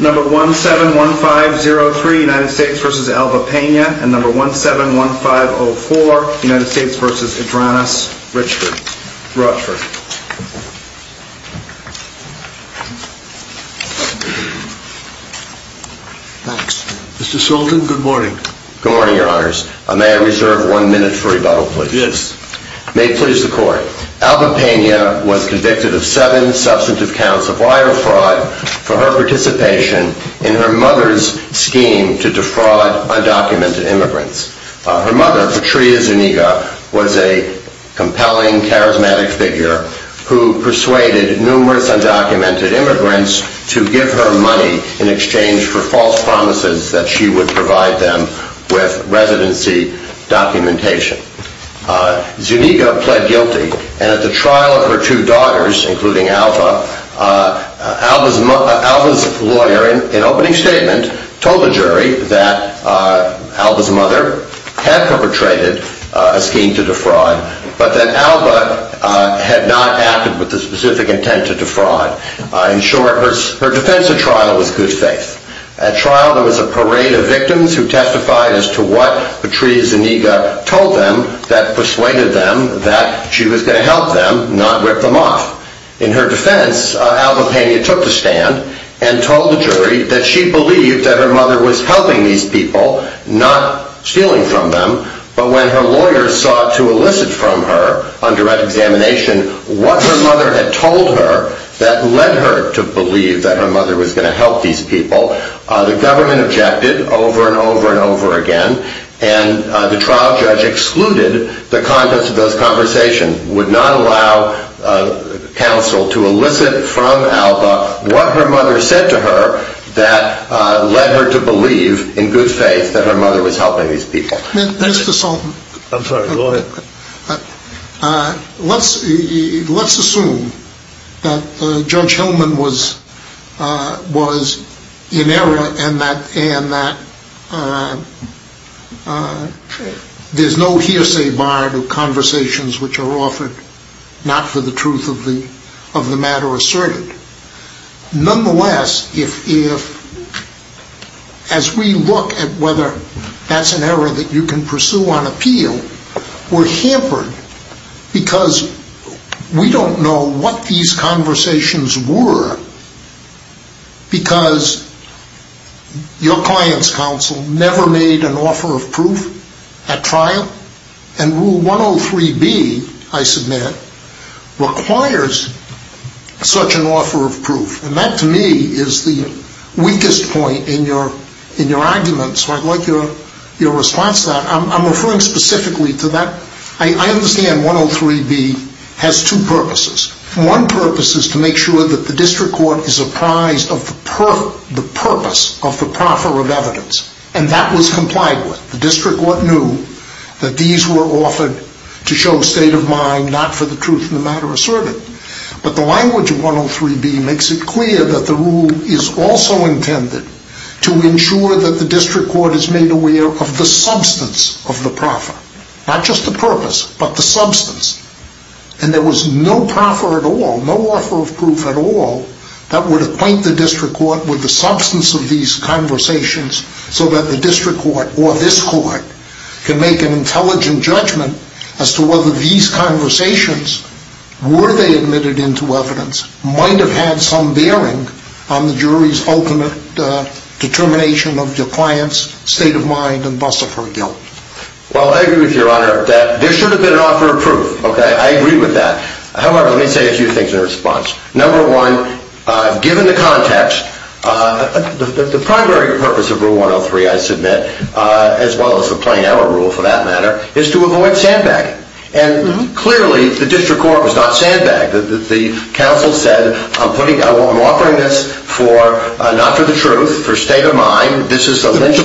171503 United States v. Alba Pena 171504 United States v. Adronis Rochford Mr. Sultan, good morning. Good morning, your honors. May I reserve one minute for rebuttal, please? Yes. May it please the court. Alba Pena was convicted of seven substantive counts of wire fraud for her participation in her mother's scheme to defraud undocumented immigrants. Her mother, Patria Zuniga, was a compelling, charismatic figure who persuaded numerous undocumented immigrants to give her money in exchange for false promises that she would provide them with residency documentation. Zuniga pled guilty, and at the trial of her two daughters, including Alba, Alba's lawyer, in opening statement, told the jury that Alba's mother had perpetrated a scheme to defraud, but that Alba had not acted with the specific intent to defraud. In short, her defense at trial was good faith. At trial, there was a parade of victims who testified as to what Patria Zuniga told them that persuaded them that she was going to help them, not rip them off. In her defense, Alba Pena took the stand and told the jury that she believed that her mother was helping these people, not stealing from them, but when her lawyer sought to elicit from her, under examination, what her mother had told her that led her to believe that her mother was going to help these people, the government objected over and over and over again, and the trial judge excluded the conversation, would not allow counsel to elicit from Alba what her mother said to her that led her to believe, in good faith, that her mother was helping these people. Mr. Sultan, I'm sorry, go ahead. Let's assume that Judge Hillman was in error and that there's no hearsay barred of conversations which are offered not for the truth of the matter asserted. Nonetheless, if, as we look at whether that's an error that you can pursue on appeal, we're hampered because we don't know what these conversations were because your client's trial, and Rule 103B, I submit, requires such an offer of proof, and that to me is the weakest point in your argument, so I'd like your response to that. I'm referring specifically to that. I understand 103B has two purposes. One purpose is to make sure that the district court is comprised of the purpose of the proffer of evidence, and that was complied with. The district court knew that these were offered to show state of mind, not for the truth of the matter asserted, but the language of 103B makes it clear that the rule is also intended to ensure that the district court is made aware of the substance of the proffer, not just the purpose, but the substance, and there was no proffer at all, no offer of proof at all, that would acquaint the district court with the substance of these conversations so that the district court, or this court, can make an intelligent judgment as to whether these conversations, were they admitted into evidence, might have had some bearing on the jury's ultimate determination of your client's state of mind and buss of her guilt. Well, I agree with your honor that there should have been an offer of proof, okay? I agree with that. However, let me say a few things in response. Number one, given the context, the primary purpose of rule 103, I submit, as well as the plain error rule, for that matter, is to avoid sandbagging. And clearly, the district court was not sandbagged. The counsel said, I'm putting, I'm offering this for, not for the truth, for state of mind, this is a... Okay. So,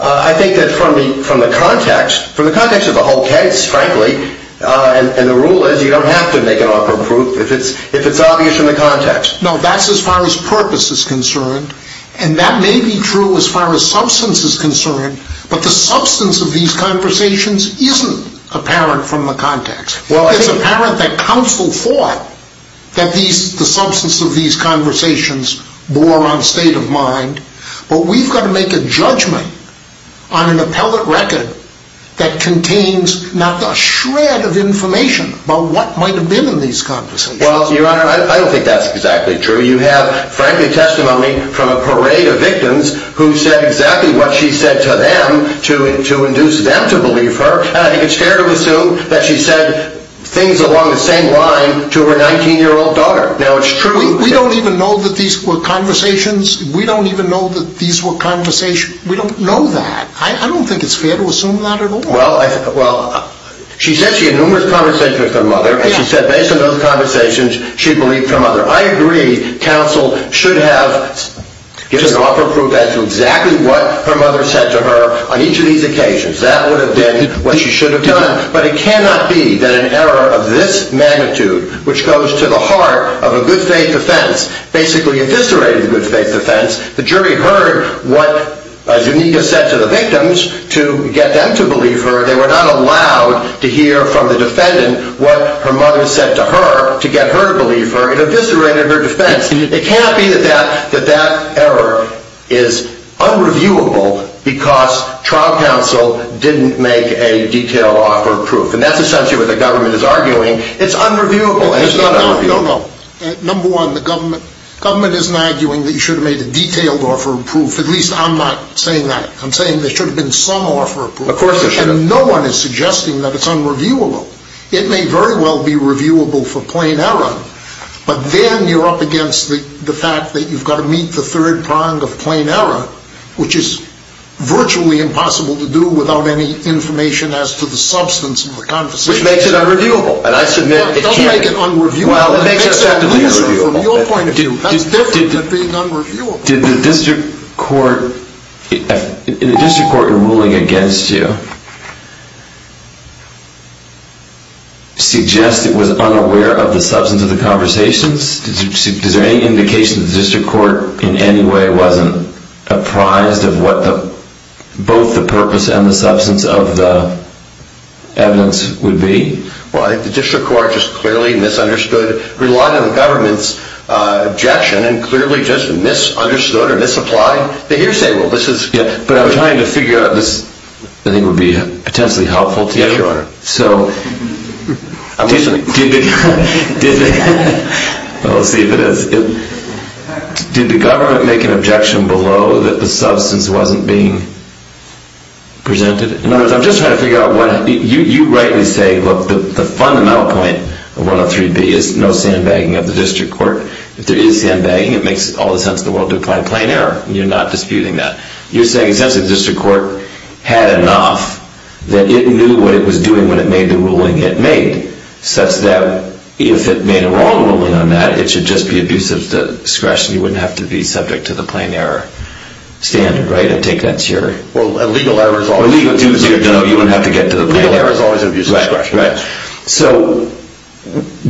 I think that from the context, from the context of the whole case, frankly, and the rule is, you don't have to make an offer of proof if it's obvious from the context. No, that's as far as purpose is concerned, and that may be true as far as substance is concerned, but the substance of these conversations isn't apparent from the context. It's apparent that counsel thought that the substance of these conversations bore on state of mind, but we've got to make a judgment on an appellate record that contains not a shred of information about what might have been in these conversations. Well, your honor, I don't think that's exactly true. You have, frankly, testimony from a parade of victims who said exactly what she said to them to induce them to believe her, and I think it's fair to assume that she said things along the same line to her 19-year-old daughter. Now, it's true... We don't even know that these were conversations. We don't even know that these were conversations. We don't know that. I don't think it's fair to assume that at all. Well, she said she had numerous conversations with her mother, and she said based on those conversations, she believed her mother. I agree counsel should have given an offer of proof as to exactly what her mother said to her on each of these occasions. That would have been what she should have done, but it cannot be that an error of this magnitude, which goes to the heart of a good faith defense, basically eviscerated the good faith defense. The jury heard what Zuniga said to the victims to get them to believe her. They were not allowed to hear from the defendant what her mother said to her to get her to believe her. It eviscerated her defense. It can't be that that error is unreviewable because trial counsel didn't make a detailed offer of proof, and that's essentially what the government is arguing. No, no, no. Number one, the government isn't arguing that you should have made a detailed offer of proof. At least I'm not saying that. I'm saying there should have been some offer of proof, and no one is suggesting that it's unreviewable. It may very well be reviewable for plain error, but then you're up against the fact that you've got to meet the third prong of plain error, which is virtually impossible to do without any information as to the substance of the conversation. Which makes it unreviewable, and I submit it can't. It doesn't make it unreviewable. Well, it makes it unreviewable. From your point of view, that's different than being unreviewable. Did the district court in ruling against you suggest it was unaware of the substance of the conversations? Is there any indication that the district court in any way wasn't apprised of both the purpose and the substance of the evidence would be? Well, I think the district court just clearly misunderstood, relied on the government's objection, and clearly just misunderstood or misapplied the hearsay. Well, this is... Yeah, but I'm trying to figure out this. I think it would be potentially helpful to... Yes, Your Honor. So... I'm listening. Well, we'll see if it is. Did the government make an objection below that the substance wasn't being presented? In other words, I'm just trying to figure out what... You rightly say, look, the fundamental point of 103B is no sandbagging of the district court. If there is sandbagging, it makes all the sense in the world to apply plain error. You're not disputing that. You're saying essentially the district court had enough that it knew what it was doing when it made the ruling it made, such that if it made a wrong ruling on that, it should just be abuse of discretion. You wouldn't have to be subject to the plain error standard, right? I take that as your... Well, legal error is always an abuse of discretion. Legal error is always an abuse of discretion. Right, right. So,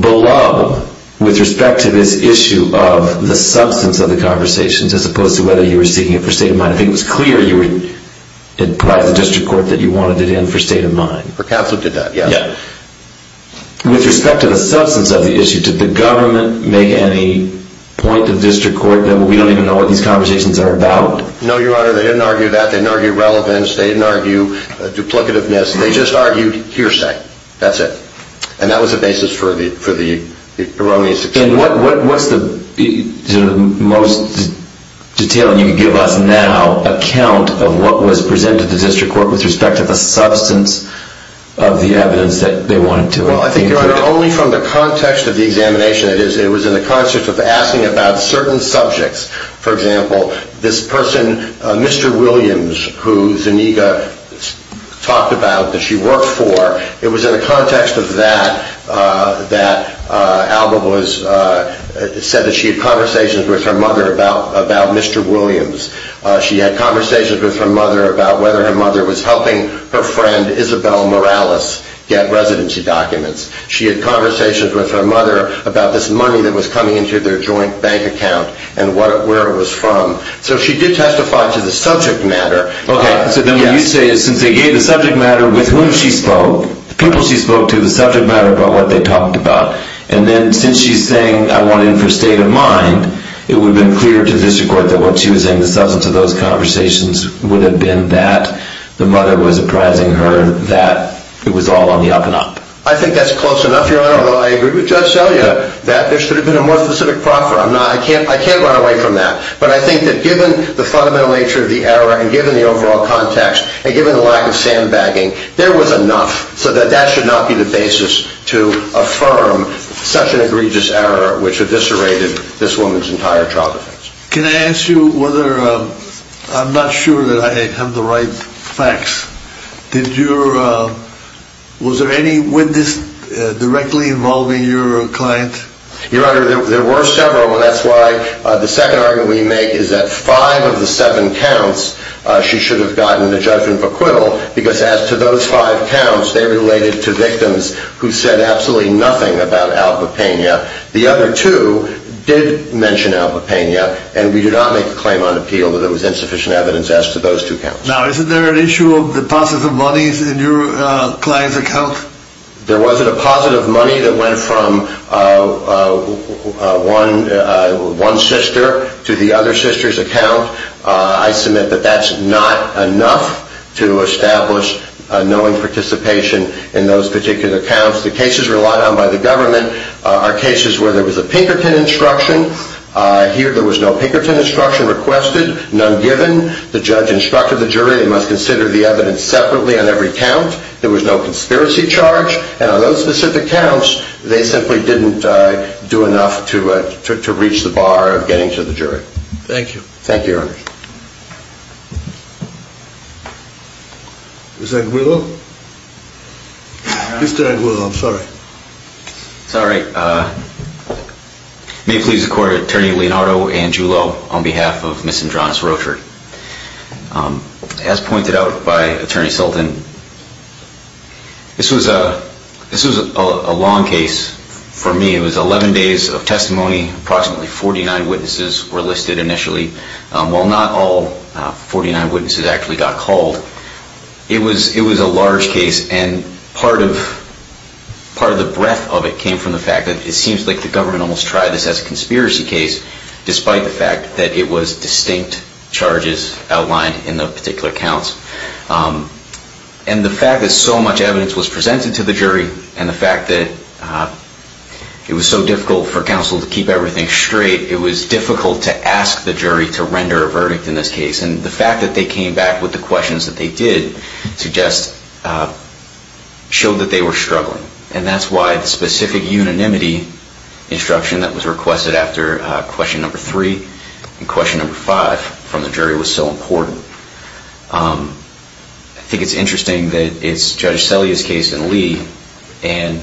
below, with respect to this issue of the substance of the conversations, as opposed to whether you were seeking it for state of mind, I think it was clear you were... It implied the district court that you wanted it in for state of mind. For counsel it did that, yeah. Yeah. With respect to the substance of the issue, did the government make any point to the district court that we don't even know what these conversations are about? No, Your Honor. They didn't argue that. They didn't argue relevance. They didn't argue duplicativeness. They just argued hearsay. That's it. And that was the basis for the erroneous... And what's the most detailed, and you can give us now, account of what was presented to the district court with respect to the substance of the evidence that they But only from the context of the examination. It was in the context of asking about certain subjects. For example, this person, Mr. Williams, who Zuniga talked about, that she worked for, it was in the context of that that Alba said that she had conversations with her mother about Mr. Williams. She had conversations with her mother about whether her mother was She had conversations with her mother about this money that was coming into their joint bank account and where it was from. So she did testify to the subject matter. Okay. So then what you say is since they gave the subject matter with whom she spoke, the people she spoke to, the subject matter about what they talked about, and then since she's saying I want in for state of mind, it would have been clear to the district court that what she was saying, the substance of those conversations would have been that the mother was apprising her that it was all on the up-and-up. I think that's close enough, Your Honor, although I agree with Judge Selya that there should have been a more specific proffer. I'm not I can't run away from that. But I think that given the fundamental nature of the error and given the overall context and given the lack of sandbagging, there was enough so that that should not be the basis to affirm such an egregious error, which had disserated this woman's entire trial defense. Can I ask you whether I'm not sure that I have the right facts. Was there any witness directly involving your client? Your Honor, there were several. That's why the second argument we make is that five of the seven counts, she should have gotten the judgment of acquittal because as to those five counts, they related to victims who said absolutely nothing about Alba Pena. The other two did mention Alba Pena, and we did not make a claim on appeal that there was insufficient evidence as to those two counts. Now, is there an issue of the positive monies in your client's account? There wasn't a positive money that went from one sister to the other sister's account. I submit that that's not enough to establish a knowing participation in those particular counts. The cases relied on by the government are cases where there was a Pinkerton instruction. Here, there was no Pinkerton instruction requested, none given. The judge instructed the jury they must consider the evidence separately on every count. There was no conspiracy charge, and on those specific counts, they simply didn't do enough to reach the bar of getting to the jury. Thank you. Thank you, Your Honor. Mr. Anguillo? Mr. Anguillo, I'm sorry. It's all right. May it please the Court, Attorney Leonardo Anguillo on behalf of Ms. Andronis Rocher. As pointed out by Attorney Sultan, this was a long case for me. It was a long case. As a result, 49 witnesses actually got called. It was a large case, and part of the breadth of it came from the fact that it seems like the government almost tried this as a conspiracy case, despite the fact that it was distinct charges outlined in the particular counts. And the fact that so much evidence was presented to the jury, and the fact that it was so difficult for counsel to keep everything straight, it was difficult to ask the jury to render a verdict in this case. And the fact that they came back with the questions that they did suggest showed that they were struggling. And that's why the specific unanimity instruction that was requested after question number 3 and question number 5 from the jury was so important. I think it's interesting that it's Judge And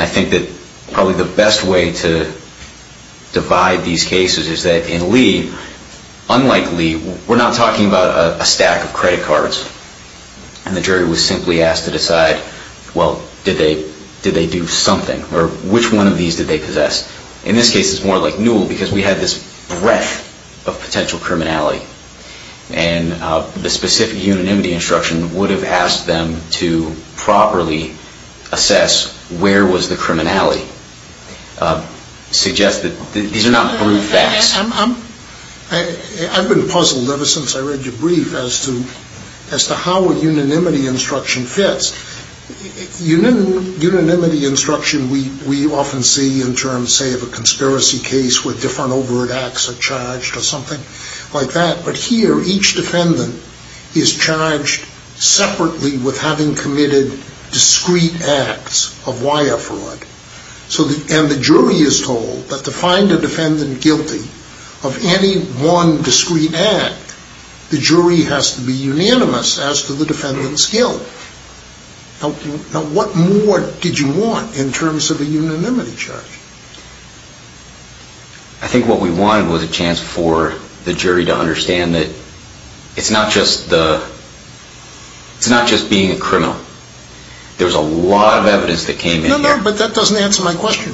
I think that probably the best way to divide these cases is that in Lee, unlike Lee, we're not talking about a stack of credit cards. And the jury was simply asked to decide, well, did they do something? Or which one of these did they possess? In this case, it's more like Newell, because we had this breadth of potential criminality. And the specific unanimity instruction would have asked them to properly assess where was the criminality. Suggest that these are not brute facts. I've been puzzled ever since I read your brief as to how a unanimity instruction fits. Unanimity instruction we often see in terms, say, of a conspiracy case where different separately with having committed discrete acts of wire fraud. And the jury is told that to find a defendant guilty of any one discrete act, the jury has to be unanimous as to the defendant's guilt. Now, what more did you want in terms of a unanimity charge? I think what we wanted was a chance for the jury to understand that it's not just being a criminal. There's a lot of evidence that came in here. No, no, but that doesn't answer my question.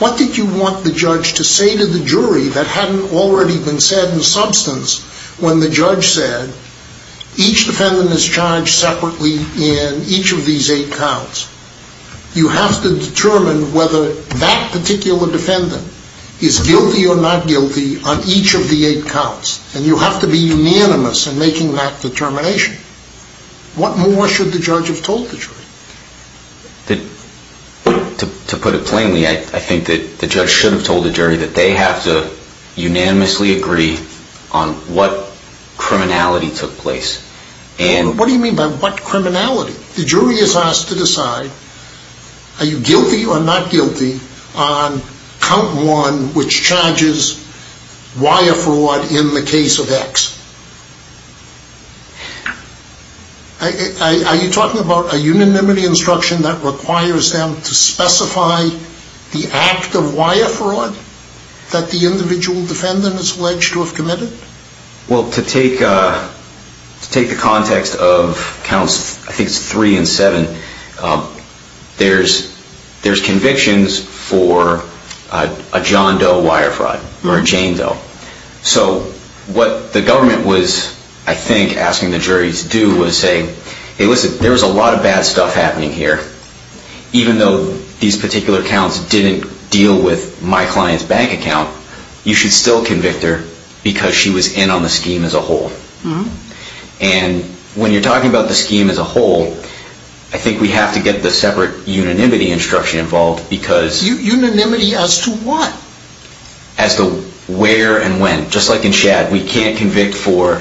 What did you want the judge to say to the jury that hadn't already been said in substance when the judge said each defendant is charged separately in each of these eight counts? You have to determine whether that particular defendant is guilty or not guilty on each of the eight counts. And you have to be unanimous in making that determination. What more should the judge have told the jury? To put it plainly, I think that the judge should have told the jury that they have to unanimously agree on what criminality. The jury is asked to decide, are you guilty or not guilty on count one, which charges wire fraud in the case of X? Are you talking about a unanimity instruction that requires them to specify the act of wire fraud that the individual defendant is alleged to have committed? Well, to take the context of counts three and seven, there's convictions for a John Doe wire fraud or a Jane Doe. So what the government was, I think, asking the jury to do was say, hey, listen, there's a lot of bad stuff happening here. Even though these particular counts didn't deal with my client's bank account, you should still convict her because she's a good person and she was in on the scheme as a whole. And when you're talking about the scheme as a whole, I think we have to get the separate unanimity instruction involved because... Unanimity as to what? As to where and when. Just like in Shad, we can't convict for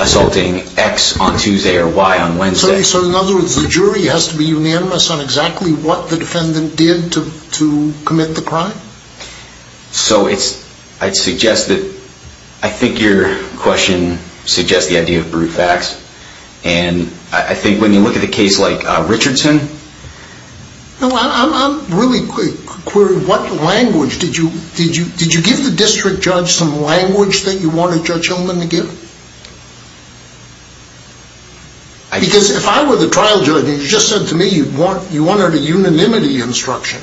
assaulting X on Tuesday or Y on Wednesday. So in other words, the jury has to be unanimous on exactly what the defendant did to commit the crime? So it's, I'd suggest that, I think your question suggests the idea of brute facts. And I think when you look at a case like Richardson... I'm really curious, what language, did you give the district judge some language that you wanted Judge Hillman to give? Because if I were the trial judge and you just said to me you wanted a unanimity instruction,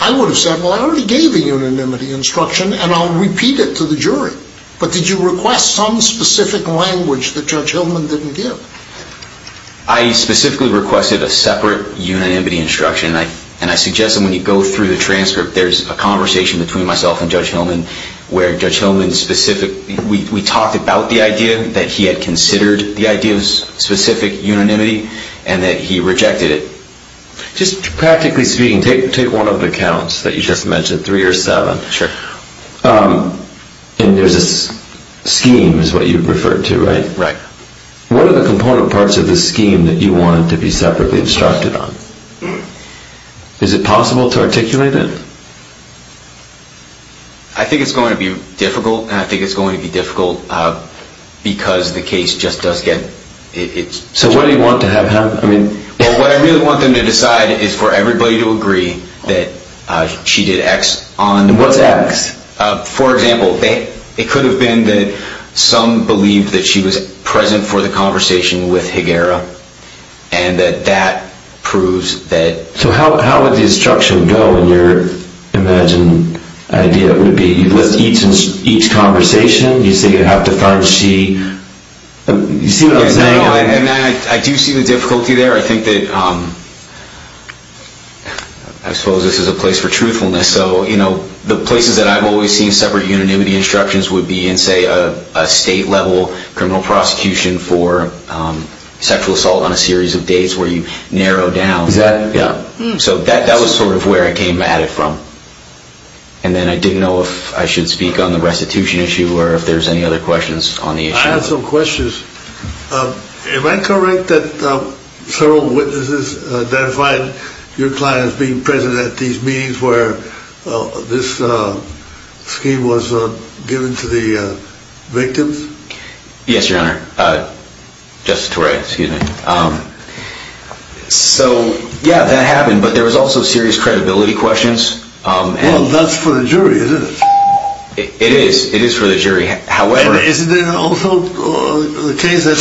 I would have said, well, I already gave the unanimity instruction and I'll repeat it to the jury. But did you request some specific language that Judge Hillman didn't give? I specifically requested a separate unanimity instruction and I suggest that when you go through the transcript, there's a conversation between myself and Judge Hillman where Judge Hillman specifically, we talked about the idea that he had considered the idea of specific unanimity and that he rejected it. Just practically speaking, take one of the counts that you just mentioned, three or seven. And there's a scheme is what you referred to, right? What are the component parts of the scheme that you wanted to be separately instructed on? Is it possible to articulate it? I think it's going to be difficult and I think it's going to be difficult because the case just does get... So what do you want to have happen? I want it to be present for the conversation with Higuera and that proves that... So how would the instruction go in your imagined idea? Would it be each conversation? I do see the difficulty there. I suppose this is a place for truthfulness. The places that I've always seen separate unanimity instructions would be in, say, a state-level criminal prosecution for sexual assault on a series of dates where you narrow down. That was sort of where I came at it from. And then I didn't know if I should speak on the restitution issue or if there's any other questions on the issue. I have some questions. Am I correct that several witnesses identified your client as being present at these meetings where this scheme was given to the victims? Yes, Your Honor. Yeah, that happened, but there was also serious credibility questions. Well, that's for the jury, isn't it? It is for the jury. And isn't it also the case that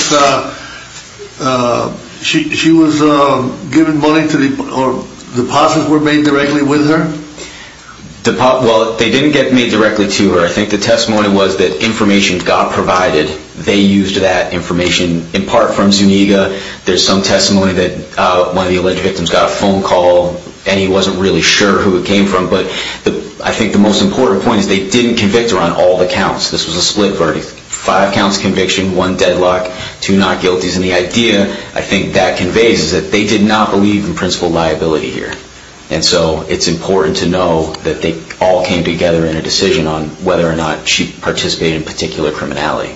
she was given money or deposits were made directly with her? Well, they didn't get made directly to her. I think the testimony was that information got provided. They used that information in part from Zuniga. There's some testimony that one of the alleged victims got a phone call and he wasn't really sure who it came from. But I think the most important point is they didn't convict her on all the counts. This was a split verdict, five counts conviction, one deadlock, two not guilties. And the idea I think that conveys is that they did not believe in principal liability here. And so it's important to know that they all came together in a decision on whether or not she participated in particular criminality.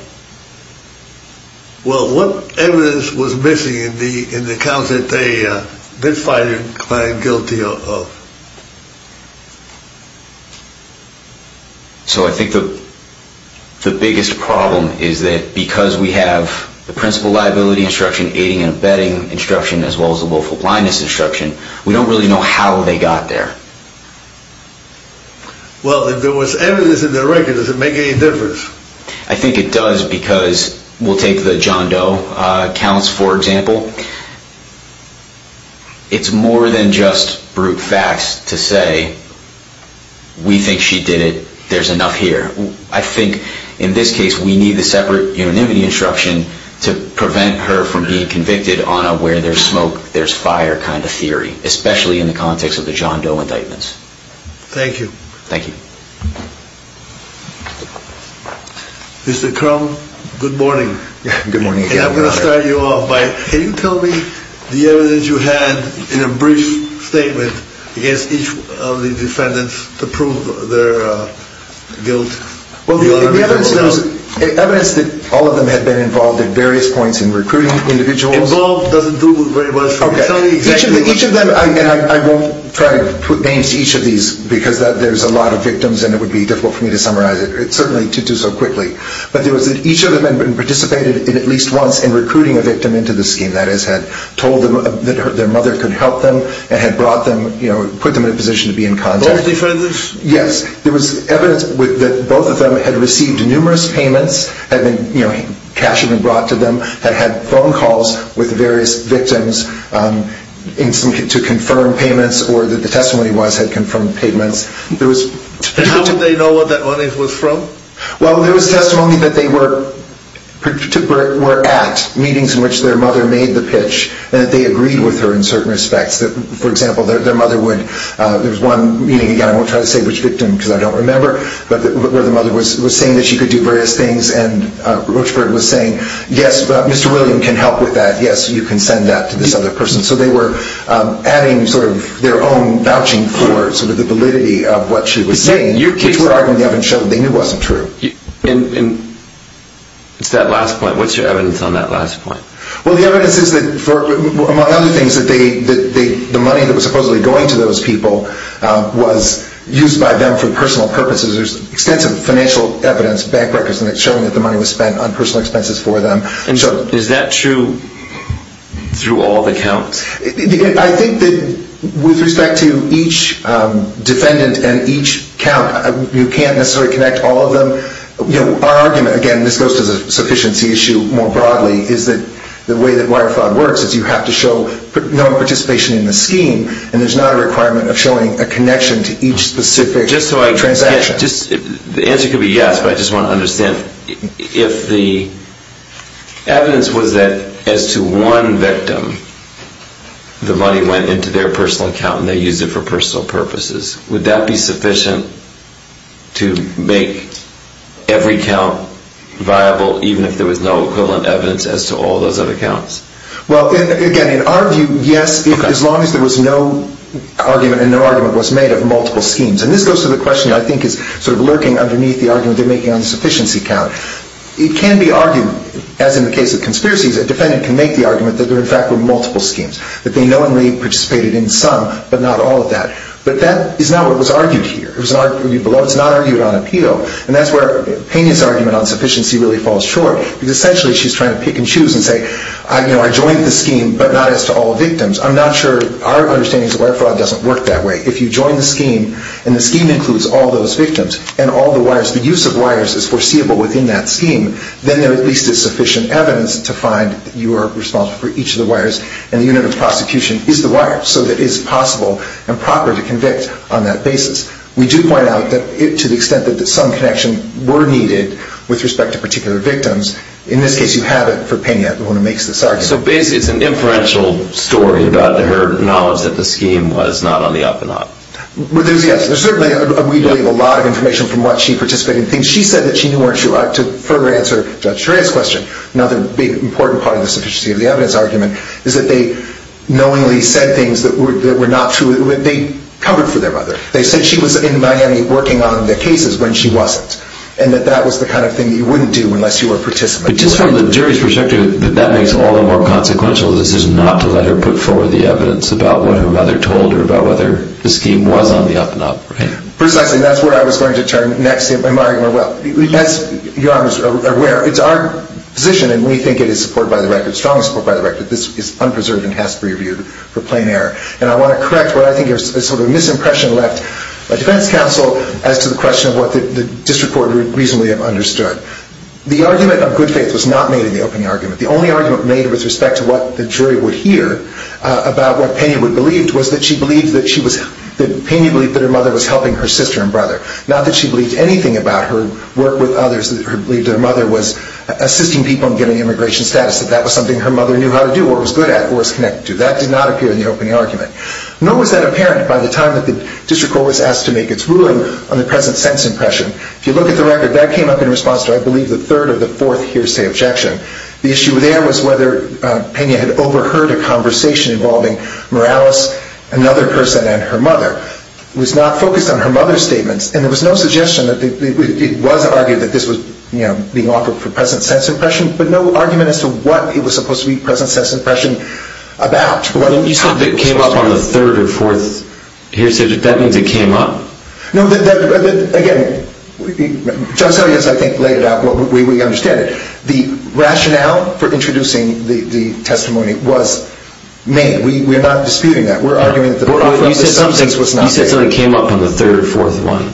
Well, what evidence was missing in the counts that they did find your client guilty of? So I think the biggest problem is that because we have the principal liability instruction, aiding and abetting instruction, as well as the willful blindness instruction, we don't really know how they got there. Well, if there was evidence in the record, does it make any difference? I think it does, because we'll take the John Doe counts, for example. It's more than just brute facts to say we think she did it. There's enough here. I think in this case we need the separate unanimity instruction to prevent her from being convicted on a where there's smoke, there's fire kind of theory, especially in the context of the John Doe indictments. Thank you. Thank you. Mr. Crum, good morning. And I'm going to start you off. Can you tell me the evidence you had in a brief statement against each of the defendants to prove their guilt? Evidence that all of them had been involved at various points in recruiting individuals. Each of them, and I won't try to put names to each of these, because there's a lot of victims and it would be difficult for me to summarize it, certainly to do so quickly. But there was that each of them had participated at least once in recruiting a victim into the scheme. That is, had told them that their mother could help them and had put them in a position to be in contact. Both defendants? Yes. There was evidence that both of them had received numerous payments, cash had been brought to them, had had phone calls with various victims to confirm payments or that the testimony was that they had confirmed payments. How would they know what that money was from? Well, there was testimony that they were at meetings in which their mother made the pitch and that they agreed with her in certain respects. For example, their mother would, there was one meeting again, I won't try to say which victim because I don't remember, where the mother was saying that she could do various things and Rochford was saying, yes, Mr. William can help with that, yes, you can send that to this other person. So they were adding sort of their own vouching for sort of the validity of what she was saying, which were arguments that they knew wasn't true. It's that last point, what's your evidence on that last point? Well, the evidence is that, among other things, that the money that was supposedly going to those people was used by them for personal purposes. There's extensive financial evidence, bank records, showing that the money was spent on personal expenses for them. And is that true through all the counts? I think that with respect to each defendant and each count, you can't necessarily connect all of them. Our argument, again, this goes to the sufficiency issue more broadly, is that the way that wire fraud works is you have to show no participation in the scheme and there's not a requirement of showing a connection to each specific transaction. The answer could be yes, but I just want to understand, if the evidence was that as to one victim, the money went into their personal account and they used it for personal purposes, would that be sufficient to make every count viable, even if there was no equivalent evidence as to all those other counts? Well, again, in our view, yes, as long as there was no argument and no argument was made of multiple schemes. And this goes to the question I think is sort of lurking underneath the argument they're making on the sufficiency count. It can be argued, as in the case of conspiracies, a defendant can make the argument that there, in fact, were multiple schemes, that they knowingly participated in some, but not all of that. But that is not what was argued here. It was argued below. It's not argued on appeal. And that's where Pena's argument on sufficiency really falls short, because essentially she's trying to pick and choose and say, you know, I joined the scheme, but not as to all victims. I'm not sure, our understanding is that wire fraud doesn't work that way. If you join the scheme and the scheme includes all those victims and all the wires, the use of wires is foreseeable within that scheme, then there at least is sufficient evidence to find that you are responsible for each of the wires. And the unit of prosecution is the wire, so that it is possible and proper to convict on that basis. We do point out that to the extent that some connection were needed with respect to particular victims, in this case you have it for Pena, the one who makes this argument. So basically it's an inferential story about her knowledge that the scheme was not on the up-and-up. There's certainly, we believe, a lot of information from what she participated in. She said that she knew where she was, to further answer Judge Shreya's question, another big important part of the sufficiency of the evidence argument, is that they knowingly said things that were not true. They covered for their mother. They said she was in Miami working on the cases when she wasn't, and that that was the kind of thing you wouldn't do unless you were a participant. But just from the jury's perspective, that makes all the more consequential the decision not to let her put forward the evidence about what her mother told her, about whether the scheme was on the up-and-up, right? Precisely. That's where I was going to turn next in my argument. As Your Honor is aware, it's our position, and we think it is supported by the record, strongly supported by the record, that this is unpreserved and has to be reviewed for plain error. And I want to correct what I think is sort of a misimpression left by defense counsel as to the question of what the district court would reasonably have understood. The argument of good faith was not made in the opening argument. The only argument made with respect to what the jury would hear about what Pena would believe was that she believed that she was, that Pena believed that her mother was helping her sister and brother. Not that she believed anything about her work with others, that she believed her mother was assisting people in getting immigration status, that that was something her mother knew how to do, or was good at, or was connected to. That did not appear in the opening argument. Nor was that apparent by the time that the district court was asked to make its ruling on the present sentence impression. If you look at the record, that came up in response to, I believe, the third or the fourth hearsay objection. The issue there was whether Pena had overheard a conversation involving Morales, another person, and her mother. It was not focused on her mother's statements. And there was no suggestion that, it was argued that this was, you know, being offered for present sentence impression, but no argument as to what it was supposed to be present sentence impression about. When you said it came up on the third or fourth hearsay, that means it came up? No, again, Judge Selleck has, I think, laid it out the way we understand it. The rationale for introducing the testimony was made. We're not disputing that. We're arguing that the substance was not there. You said something came up on the third or fourth one.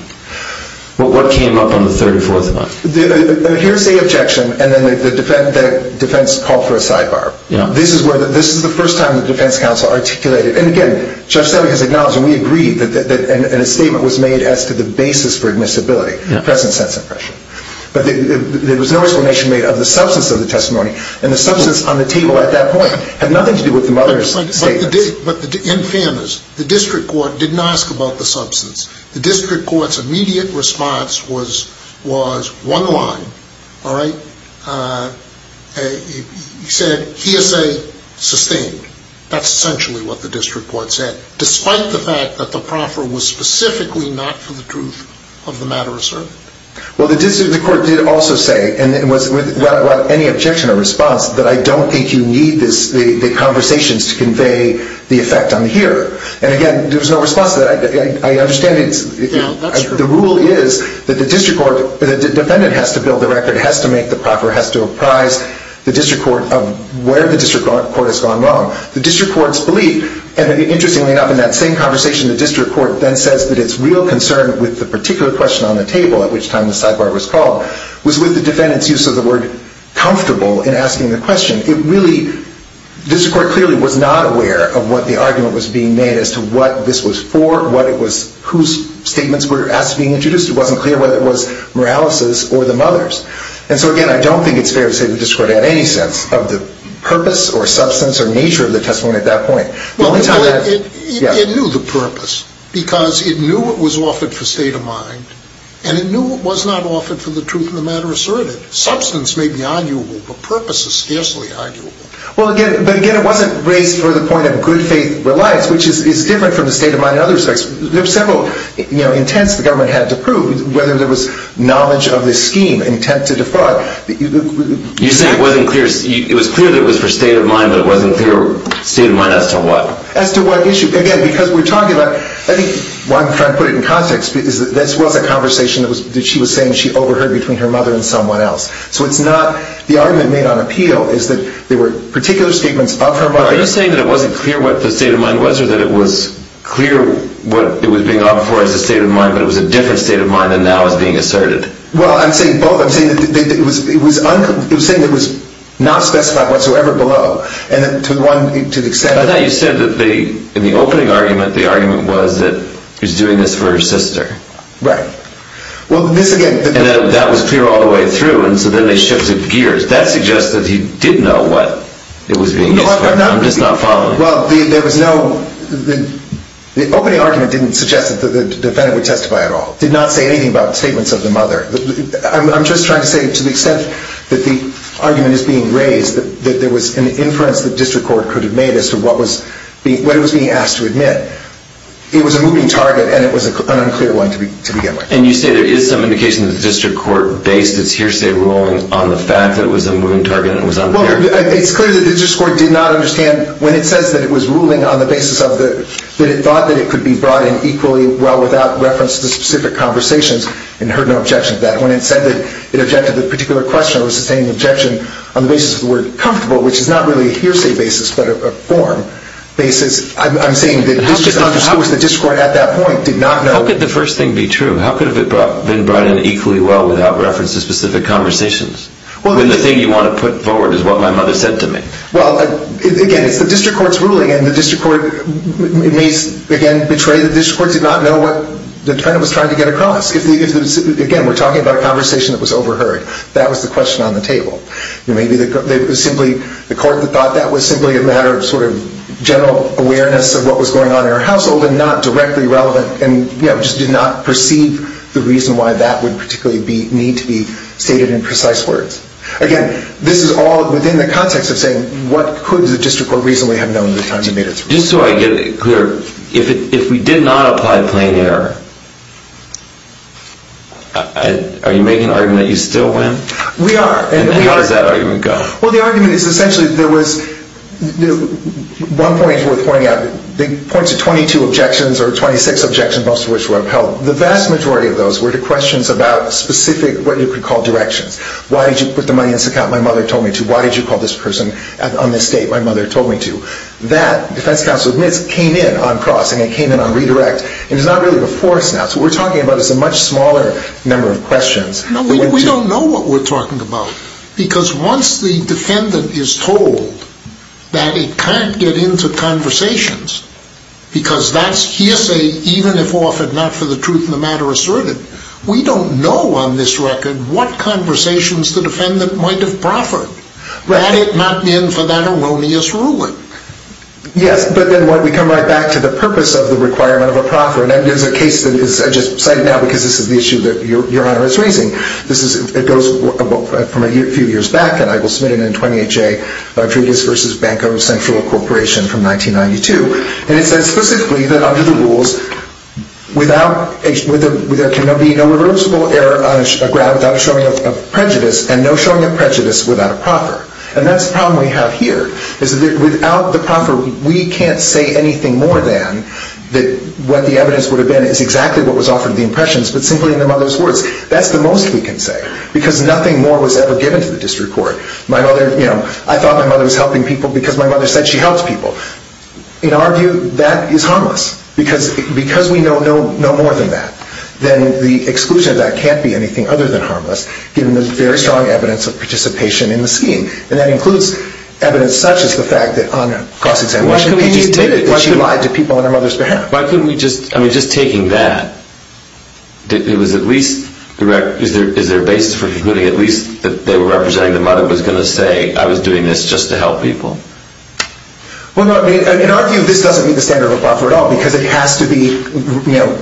What came up on the third or fourth one? The hearsay objection, and then the defense called for a sidebar. This is the first time the defense counsel articulated it. And again, Judge Selleck has acknowledged, and we agreed, that a statement was made as to the basis for admissibility, present sentence impression. But there was no explanation made of the substance of the testimony, and the substance on the table at that point had nothing to do with the mother's statements. But in fairness, the district court didn't ask about the substance. The district court's immediate response was one line, all right, he said hearsay sustained. That's essentially what the district court said, despite the fact that the proffer was specifically not for the truth of the matter asserted. Well, the court did also say, and without any objection or response, that I don't think you need the conversations to convey the effect on the hearer. And again, there was no response to that. I understand the rule is that the defendant has to build the record, has to make the proffer, has to apprise the district court of where the district court has gone wrong. The district court's belief, and interestingly enough, in that same conversation, the district court then says that its real concern with the particular question on the table, at which time the sidebar was called, was with the defendant's use of the word comfortable in asking the question. The district court clearly was not aware of what the argument was being made as to what this was for, whose statements were being introduced. It wasn't clear whether it was Morales's or the mother's. And so again, I don't think it's fair to say the district court had any sense of the purpose or substance or nature of the testimony at that point. It knew the purpose, because it knew it was offered for state of mind, and it knew it was not offered for the truth of the matter asserted. Substance may be arguable, but purpose is scarcely arguable. Well, again, it wasn't raised for the point of good faith for life, which is different from the state of mind in other respects. There were several intents the government had to prove, whether there was knowledge of this scheme, intent to defraud. You're saying it was clear that it was for state of mind, but it wasn't clear state of mind as to what? As to what issue? Again, because we're talking about, I think one friend put it in context, that this was a conversation that she was saying she overheard between her mother and someone else. So it's not, the argument made on appeal is that there were particular statements of her mother. Are you saying that it wasn't clear what the state of mind was or that it was clear what it was being offered for as a state of mind, but it was a different state of mind than now is being asserted? Well, I'm saying both. I'm saying that it was saying that it was not specified whatsoever below, and to the extent that... You said that in the opening argument, the argument was that he was doing this for her sister. Right. Well, this again... And that was clear all the way through, and so then they shifted gears. That suggests that he did know what it was being used for. No, I'm not... I'm just not following. Well, there was no... The opening argument didn't suggest that the defendant would testify at all. It did not say anything about statements of the mother. I'm just trying to say that to the extent that the argument is being raised, that there was an inference that district court could have made as to what it was being asked to admit. It was a moving target, and it was an unclear one to begin with. And you say there is some indication that the district court based its hearsay ruling on the fact that it was a moving target and it was unclear? Well, it's clear that the district court did not understand... When it says that it was ruling on the basis that it thought that it could be brought in equally well without reference to specific conversations, it heard no objection to that. When it said that it objected to the particular question, it was sustaining an objection on the basis of the word comfortable, which is not really a hearsay basis, but a form basis. I'm saying that the district court at that point did not know... How could the first thing be true? How could it have been brought in equally well without reference to specific conversations? When the thing you want to put forward is what my mother said to me. Well, again, it's the district court's ruling, and the district court may, again, betray the district court to not know what the defendant was trying to get across. Again, we're talking about a conversation that was overheard. That was the question on the table. It was simply the court that thought that was simply a matter of general awareness of what was going on in her household and not directly relevant, and just did not perceive the reason why that would particularly need to be stated in precise words. Again, this is all within the context of saying, what could the district court reasonably have known at the time you made its ruling? Just so I get it clear, if we did not apply plain error, are you making an argument that you still win? We are. And how does that argument go? Well, the argument is essentially there was... One point is worth pointing out. It points to 22 objections or 26 objections, most of which were upheld. The vast majority of those were to questions about specific what you could call directions. Why did you put the money in this account my mother told me to? Why did you call this person on this date my mother told me to? That, defense counsel admits, came in on cross, and it came in on redirect, and it's not really before us now. So what we're talking about is a much smaller number of questions. No, we don't know what we're talking about, because once the defendant is told that it can't get into conversations, because that's hearsay even if offered not for the truth of the matter asserted, we don't know on this record what conversations the defendant might have proffered had it not been for that erroneous ruling. Yes, but then we come right back to the purpose of the requirement of a proffer, and that is a case that I just cite now because this is the issue that Your Honor is raising. It goes from a few years back, and I will submit it in 20HA, Rodriguez v. Banco Central Corporation from 1992, and it says specifically that under the rules, there can be no reversible error on a ground without a showing of prejudice, and no showing of prejudice without a proffer. And that's the problem we have here, is that without the proffer, we can't say anything more than that what the evidence would have been is exactly what was offered to the impressions, but simply in the mother's words. That's the most we can say, because nothing more was ever given to the district court. I thought my mother was helping people because my mother said she helps people. In our view, that is harmless, because we know no more than that. Then the exclusion of that can't be anything other than harmless, given the very strong evidence of participation in the scheme, and that includes evidence such as the fact that on cross-examination pages, she lied to people on her mother's behalf. Why couldn't we just, I mean, just taking that, is there a basis for concluding at least that they were representing the mother was going to say, I was doing this just to help people? Well, no, in our view, this doesn't meet the standard of a proffer at all, because it has to be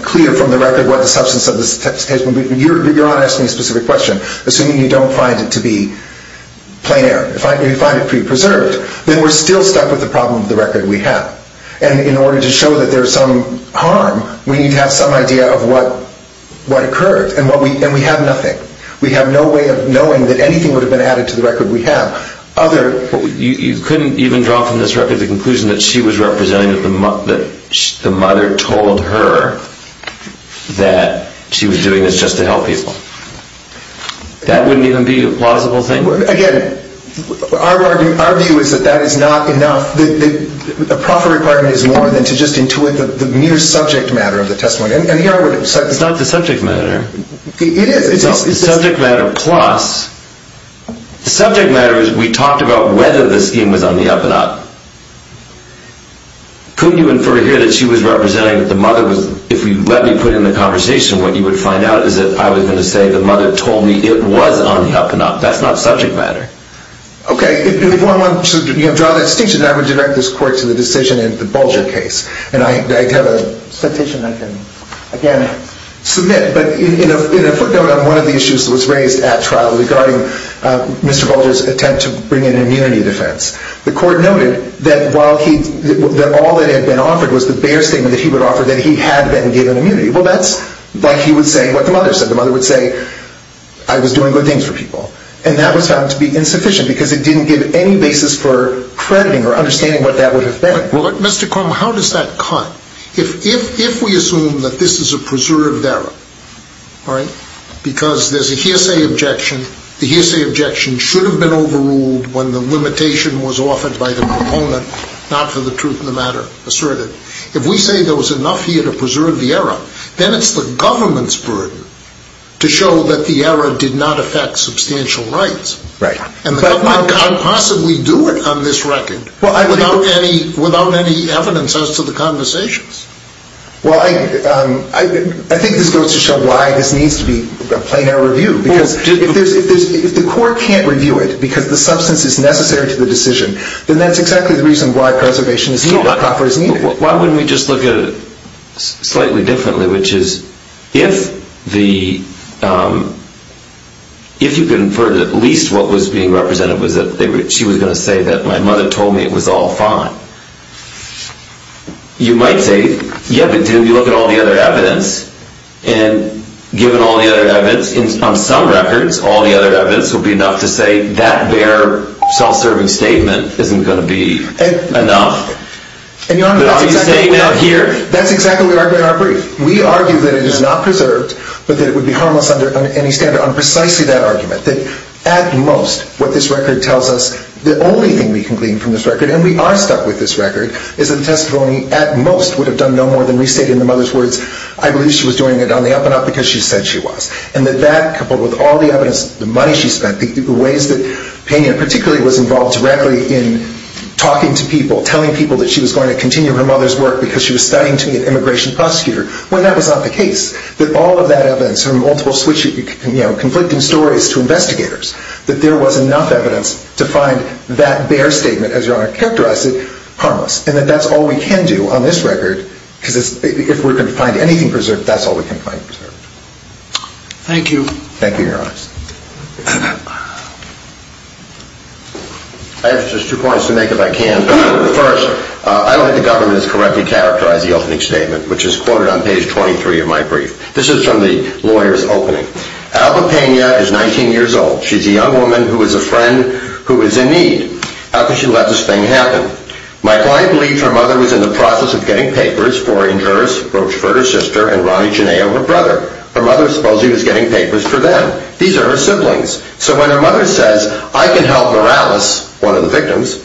clear from the record what the substance of this text is. Your Honor asked me a specific question. Assuming you don't find it to be plain error, you find it pre-preserved, then we're still stuck with the problem of the record we have. And in order to show that there's some harm, we need to have some idea of what occurred, and we have nothing. We have no way of knowing that anything would have been added to the record we have. You couldn't even draw from this record the conclusion that she was representing, that the mother told her that she was doing this just to help people. That wouldn't even be a plausible thing? Again, our view is that that is not enough. A proffer requirement is more than to just intuit the mere subject matter of the testimony. It's not the subject matter. It is. It's the subject matter plus. The subject matter is we talked about whether the scheme was on the up-and-up. Couldn't you infer here that she was representing that the mother was, if you let me put it in the conversation, what you would find out is that I was going to say the mother told me it was on the up-and-up. That's not subject matter. Okay. If one wants to draw that distinction, I would direct this court to the decision in the Bulger case. I have a petition I can, again, submit. But in a footnote on one of the issues that was raised at trial regarding Mr. Bulger's attempt to bring in an immunity defense, the court noted that all that had been offered was the bare statement that he would offer that he had been given immunity. Well, that's like he would say what the mother said. The mother would say, I was doing good things for people. And that was found to be insufficient because it didn't give any basis for crediting or understanding what that would have been. Mr. Crumb, how does that cut? If we assume that this is a preserved error, all right, because there's a hearsay objection, the hearsay objection should have been overruled when the limitation was offered by the proponent, not for the truth of the matter asserted. If we say there was enough here to preserve the error, then it's the government's burden to show that the error did not affect substantial rights. Right. And the government can't possibly do it on this record without any evidence as to the conversations. Well, I think this goes to show why this needs to be a plain error review. Because if the court can't review it because the substance is necessary to the decision, then that's exactly the reason why preservation is not offered as needed. Why wouldn't we just look at it slightly differently, which is if you could infer that at least what was being represented was that she was going to say that my mother told me it was all fine, you might say, yeah, but then you look at all the other evidence, and given all the other evidence, on some records, all the other evidence will be enough to say that bare self-serving statement isn't going to be enough. And, Your Honor, that's exactly what we argue in our brief. We argue that it is not preserved, but that it would be harmless under any standard. On precisely that argument, that at most what this record tells us, the only thing we can glean from this record, and we are stuck with this record, is that the testimony at most would have done no more than restate in the mother's words, I believe she was doing it on the up and up because she said she was. And that coupled with all the evidence, the money she spent, the ways that Pena particularly was involved directly in talking to people, telling people that she was going to continue her mother's work because she was studying to be an immigration prosecutor, well, that was not the case. That all of that evidence, her multiple conflicting stories to investigators, that there was enough evidence to find that bare statement, as Your Honor characterized it, harmless. And that that's all we can do on this record, because if we're going to find anything preserved, that's all we can find preserved. Thank you. Thank you, Your Honor. I have just two points to make, if I can. First, I don't think the government has correctly characterized the opening statement, which is quoted on page 23 of my brief. This is from the lawyer's opening. Alba Pena is 19 years old. She's a young woman who is a friend who is in need. How could she let this thing happen? My client believes her mother was in the process of getting papers for injurious Rochefort, her sister, and Ronnie Gennaio, her brother. Her mother supposedly was getting papers for them. These are her siblings. So when her mother says, I can help Morales, one of the victims,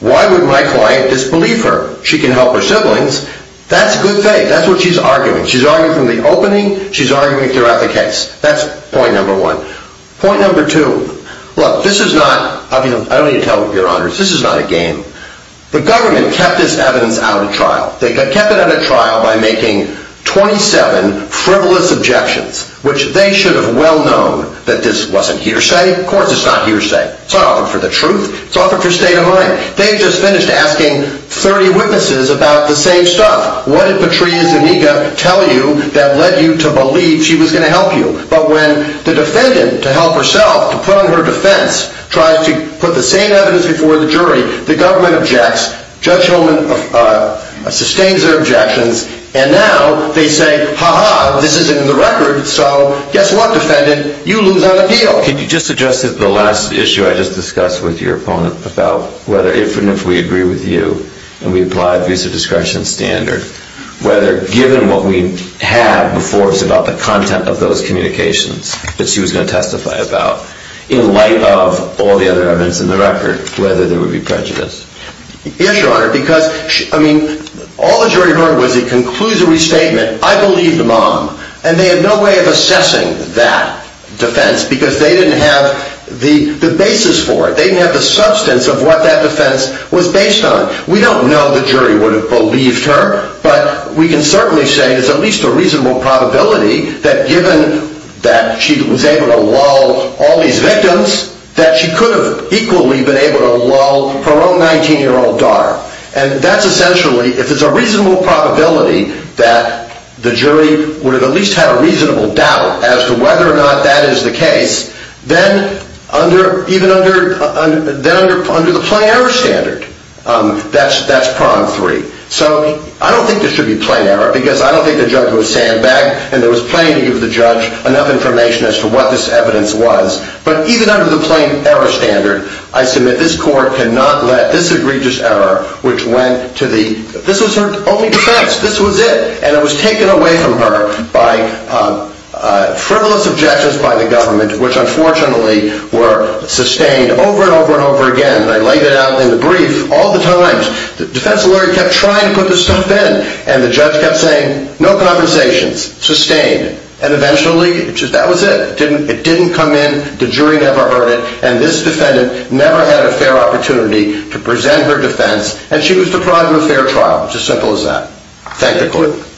why would my client disbelieve her? She can help her siblings. That's good faith. That's what she's arguing. She's arguing from the opening. She's arguing throughout the case. That's point number one. Point number two. Look, this is not, I don't need to tell you, Your Honors, this is not a game. The government kept this evidence out of trial. They kept it out of trial by making 27 frivolous objections, which they should have well known that this wasn't hearsay. Of course, it's not hearsay. It's not offered for the truth. It's offered for state of mind. They just finished asking 30 witnesses about the same stuff. What did Patria Zuniga tell you that led you to believe she was going to help you? But when the defendant, to help herself, to put on her defense, tries to put the same evidence before the jury, the government objects. Judge Hillman sustains their objections, and now they say, ha-ha, this isn't in the record, so guess what, defendant? You lose on appeal. Can you just address the last issue I just discussed with your opponent about whether, if and if we agree with you and we apply a visa discretion standard, whether given what we have before us about the content of those communications that she was going to testify about, in light of all the other evidence in the record, whether there would be prejudice? Yes, Your Honor, because, I mean, all the jury heard was a conclusory statement. I believe the mom, and they had no way of assessing that defense because they didn't have the basis for it. They didn't have the substance of what that defense was based on. We don't know the jury would have believed her, but we can certainly say there's at least a reasonable probability that given that she was able to lull all these victims, that she could have equally been able to lull her own 19-year-old daughter. And that's essentially, if there's a reasonable probability that the jury would have at least had a reasonable doubt as to whether or not that is the case, then even under the plain error standard, that's prong three. So I don't think there should be plain error because I don't think the judge was sandbagged and there was plenty of the judge enough information as to what this evidence was. But even under the plain error standard, I submit this court cannot let this egregious error, which went to the, this was her only defense. This was it. And it was taken away from her by frivolous objections by the government, which unfortunately were sustained over and over and over again. And I laid it out in the brief all the time. The defense lawyer kept trying to put this stuff in. And the judge kept saying, no compensations, sustained. And eventually, that was it. It didn't come in. The jury never heard it. And this defendant never had a fair opportunity to present her defense. And she was deprived of a fair trial. It's as simple as that. Thank the court.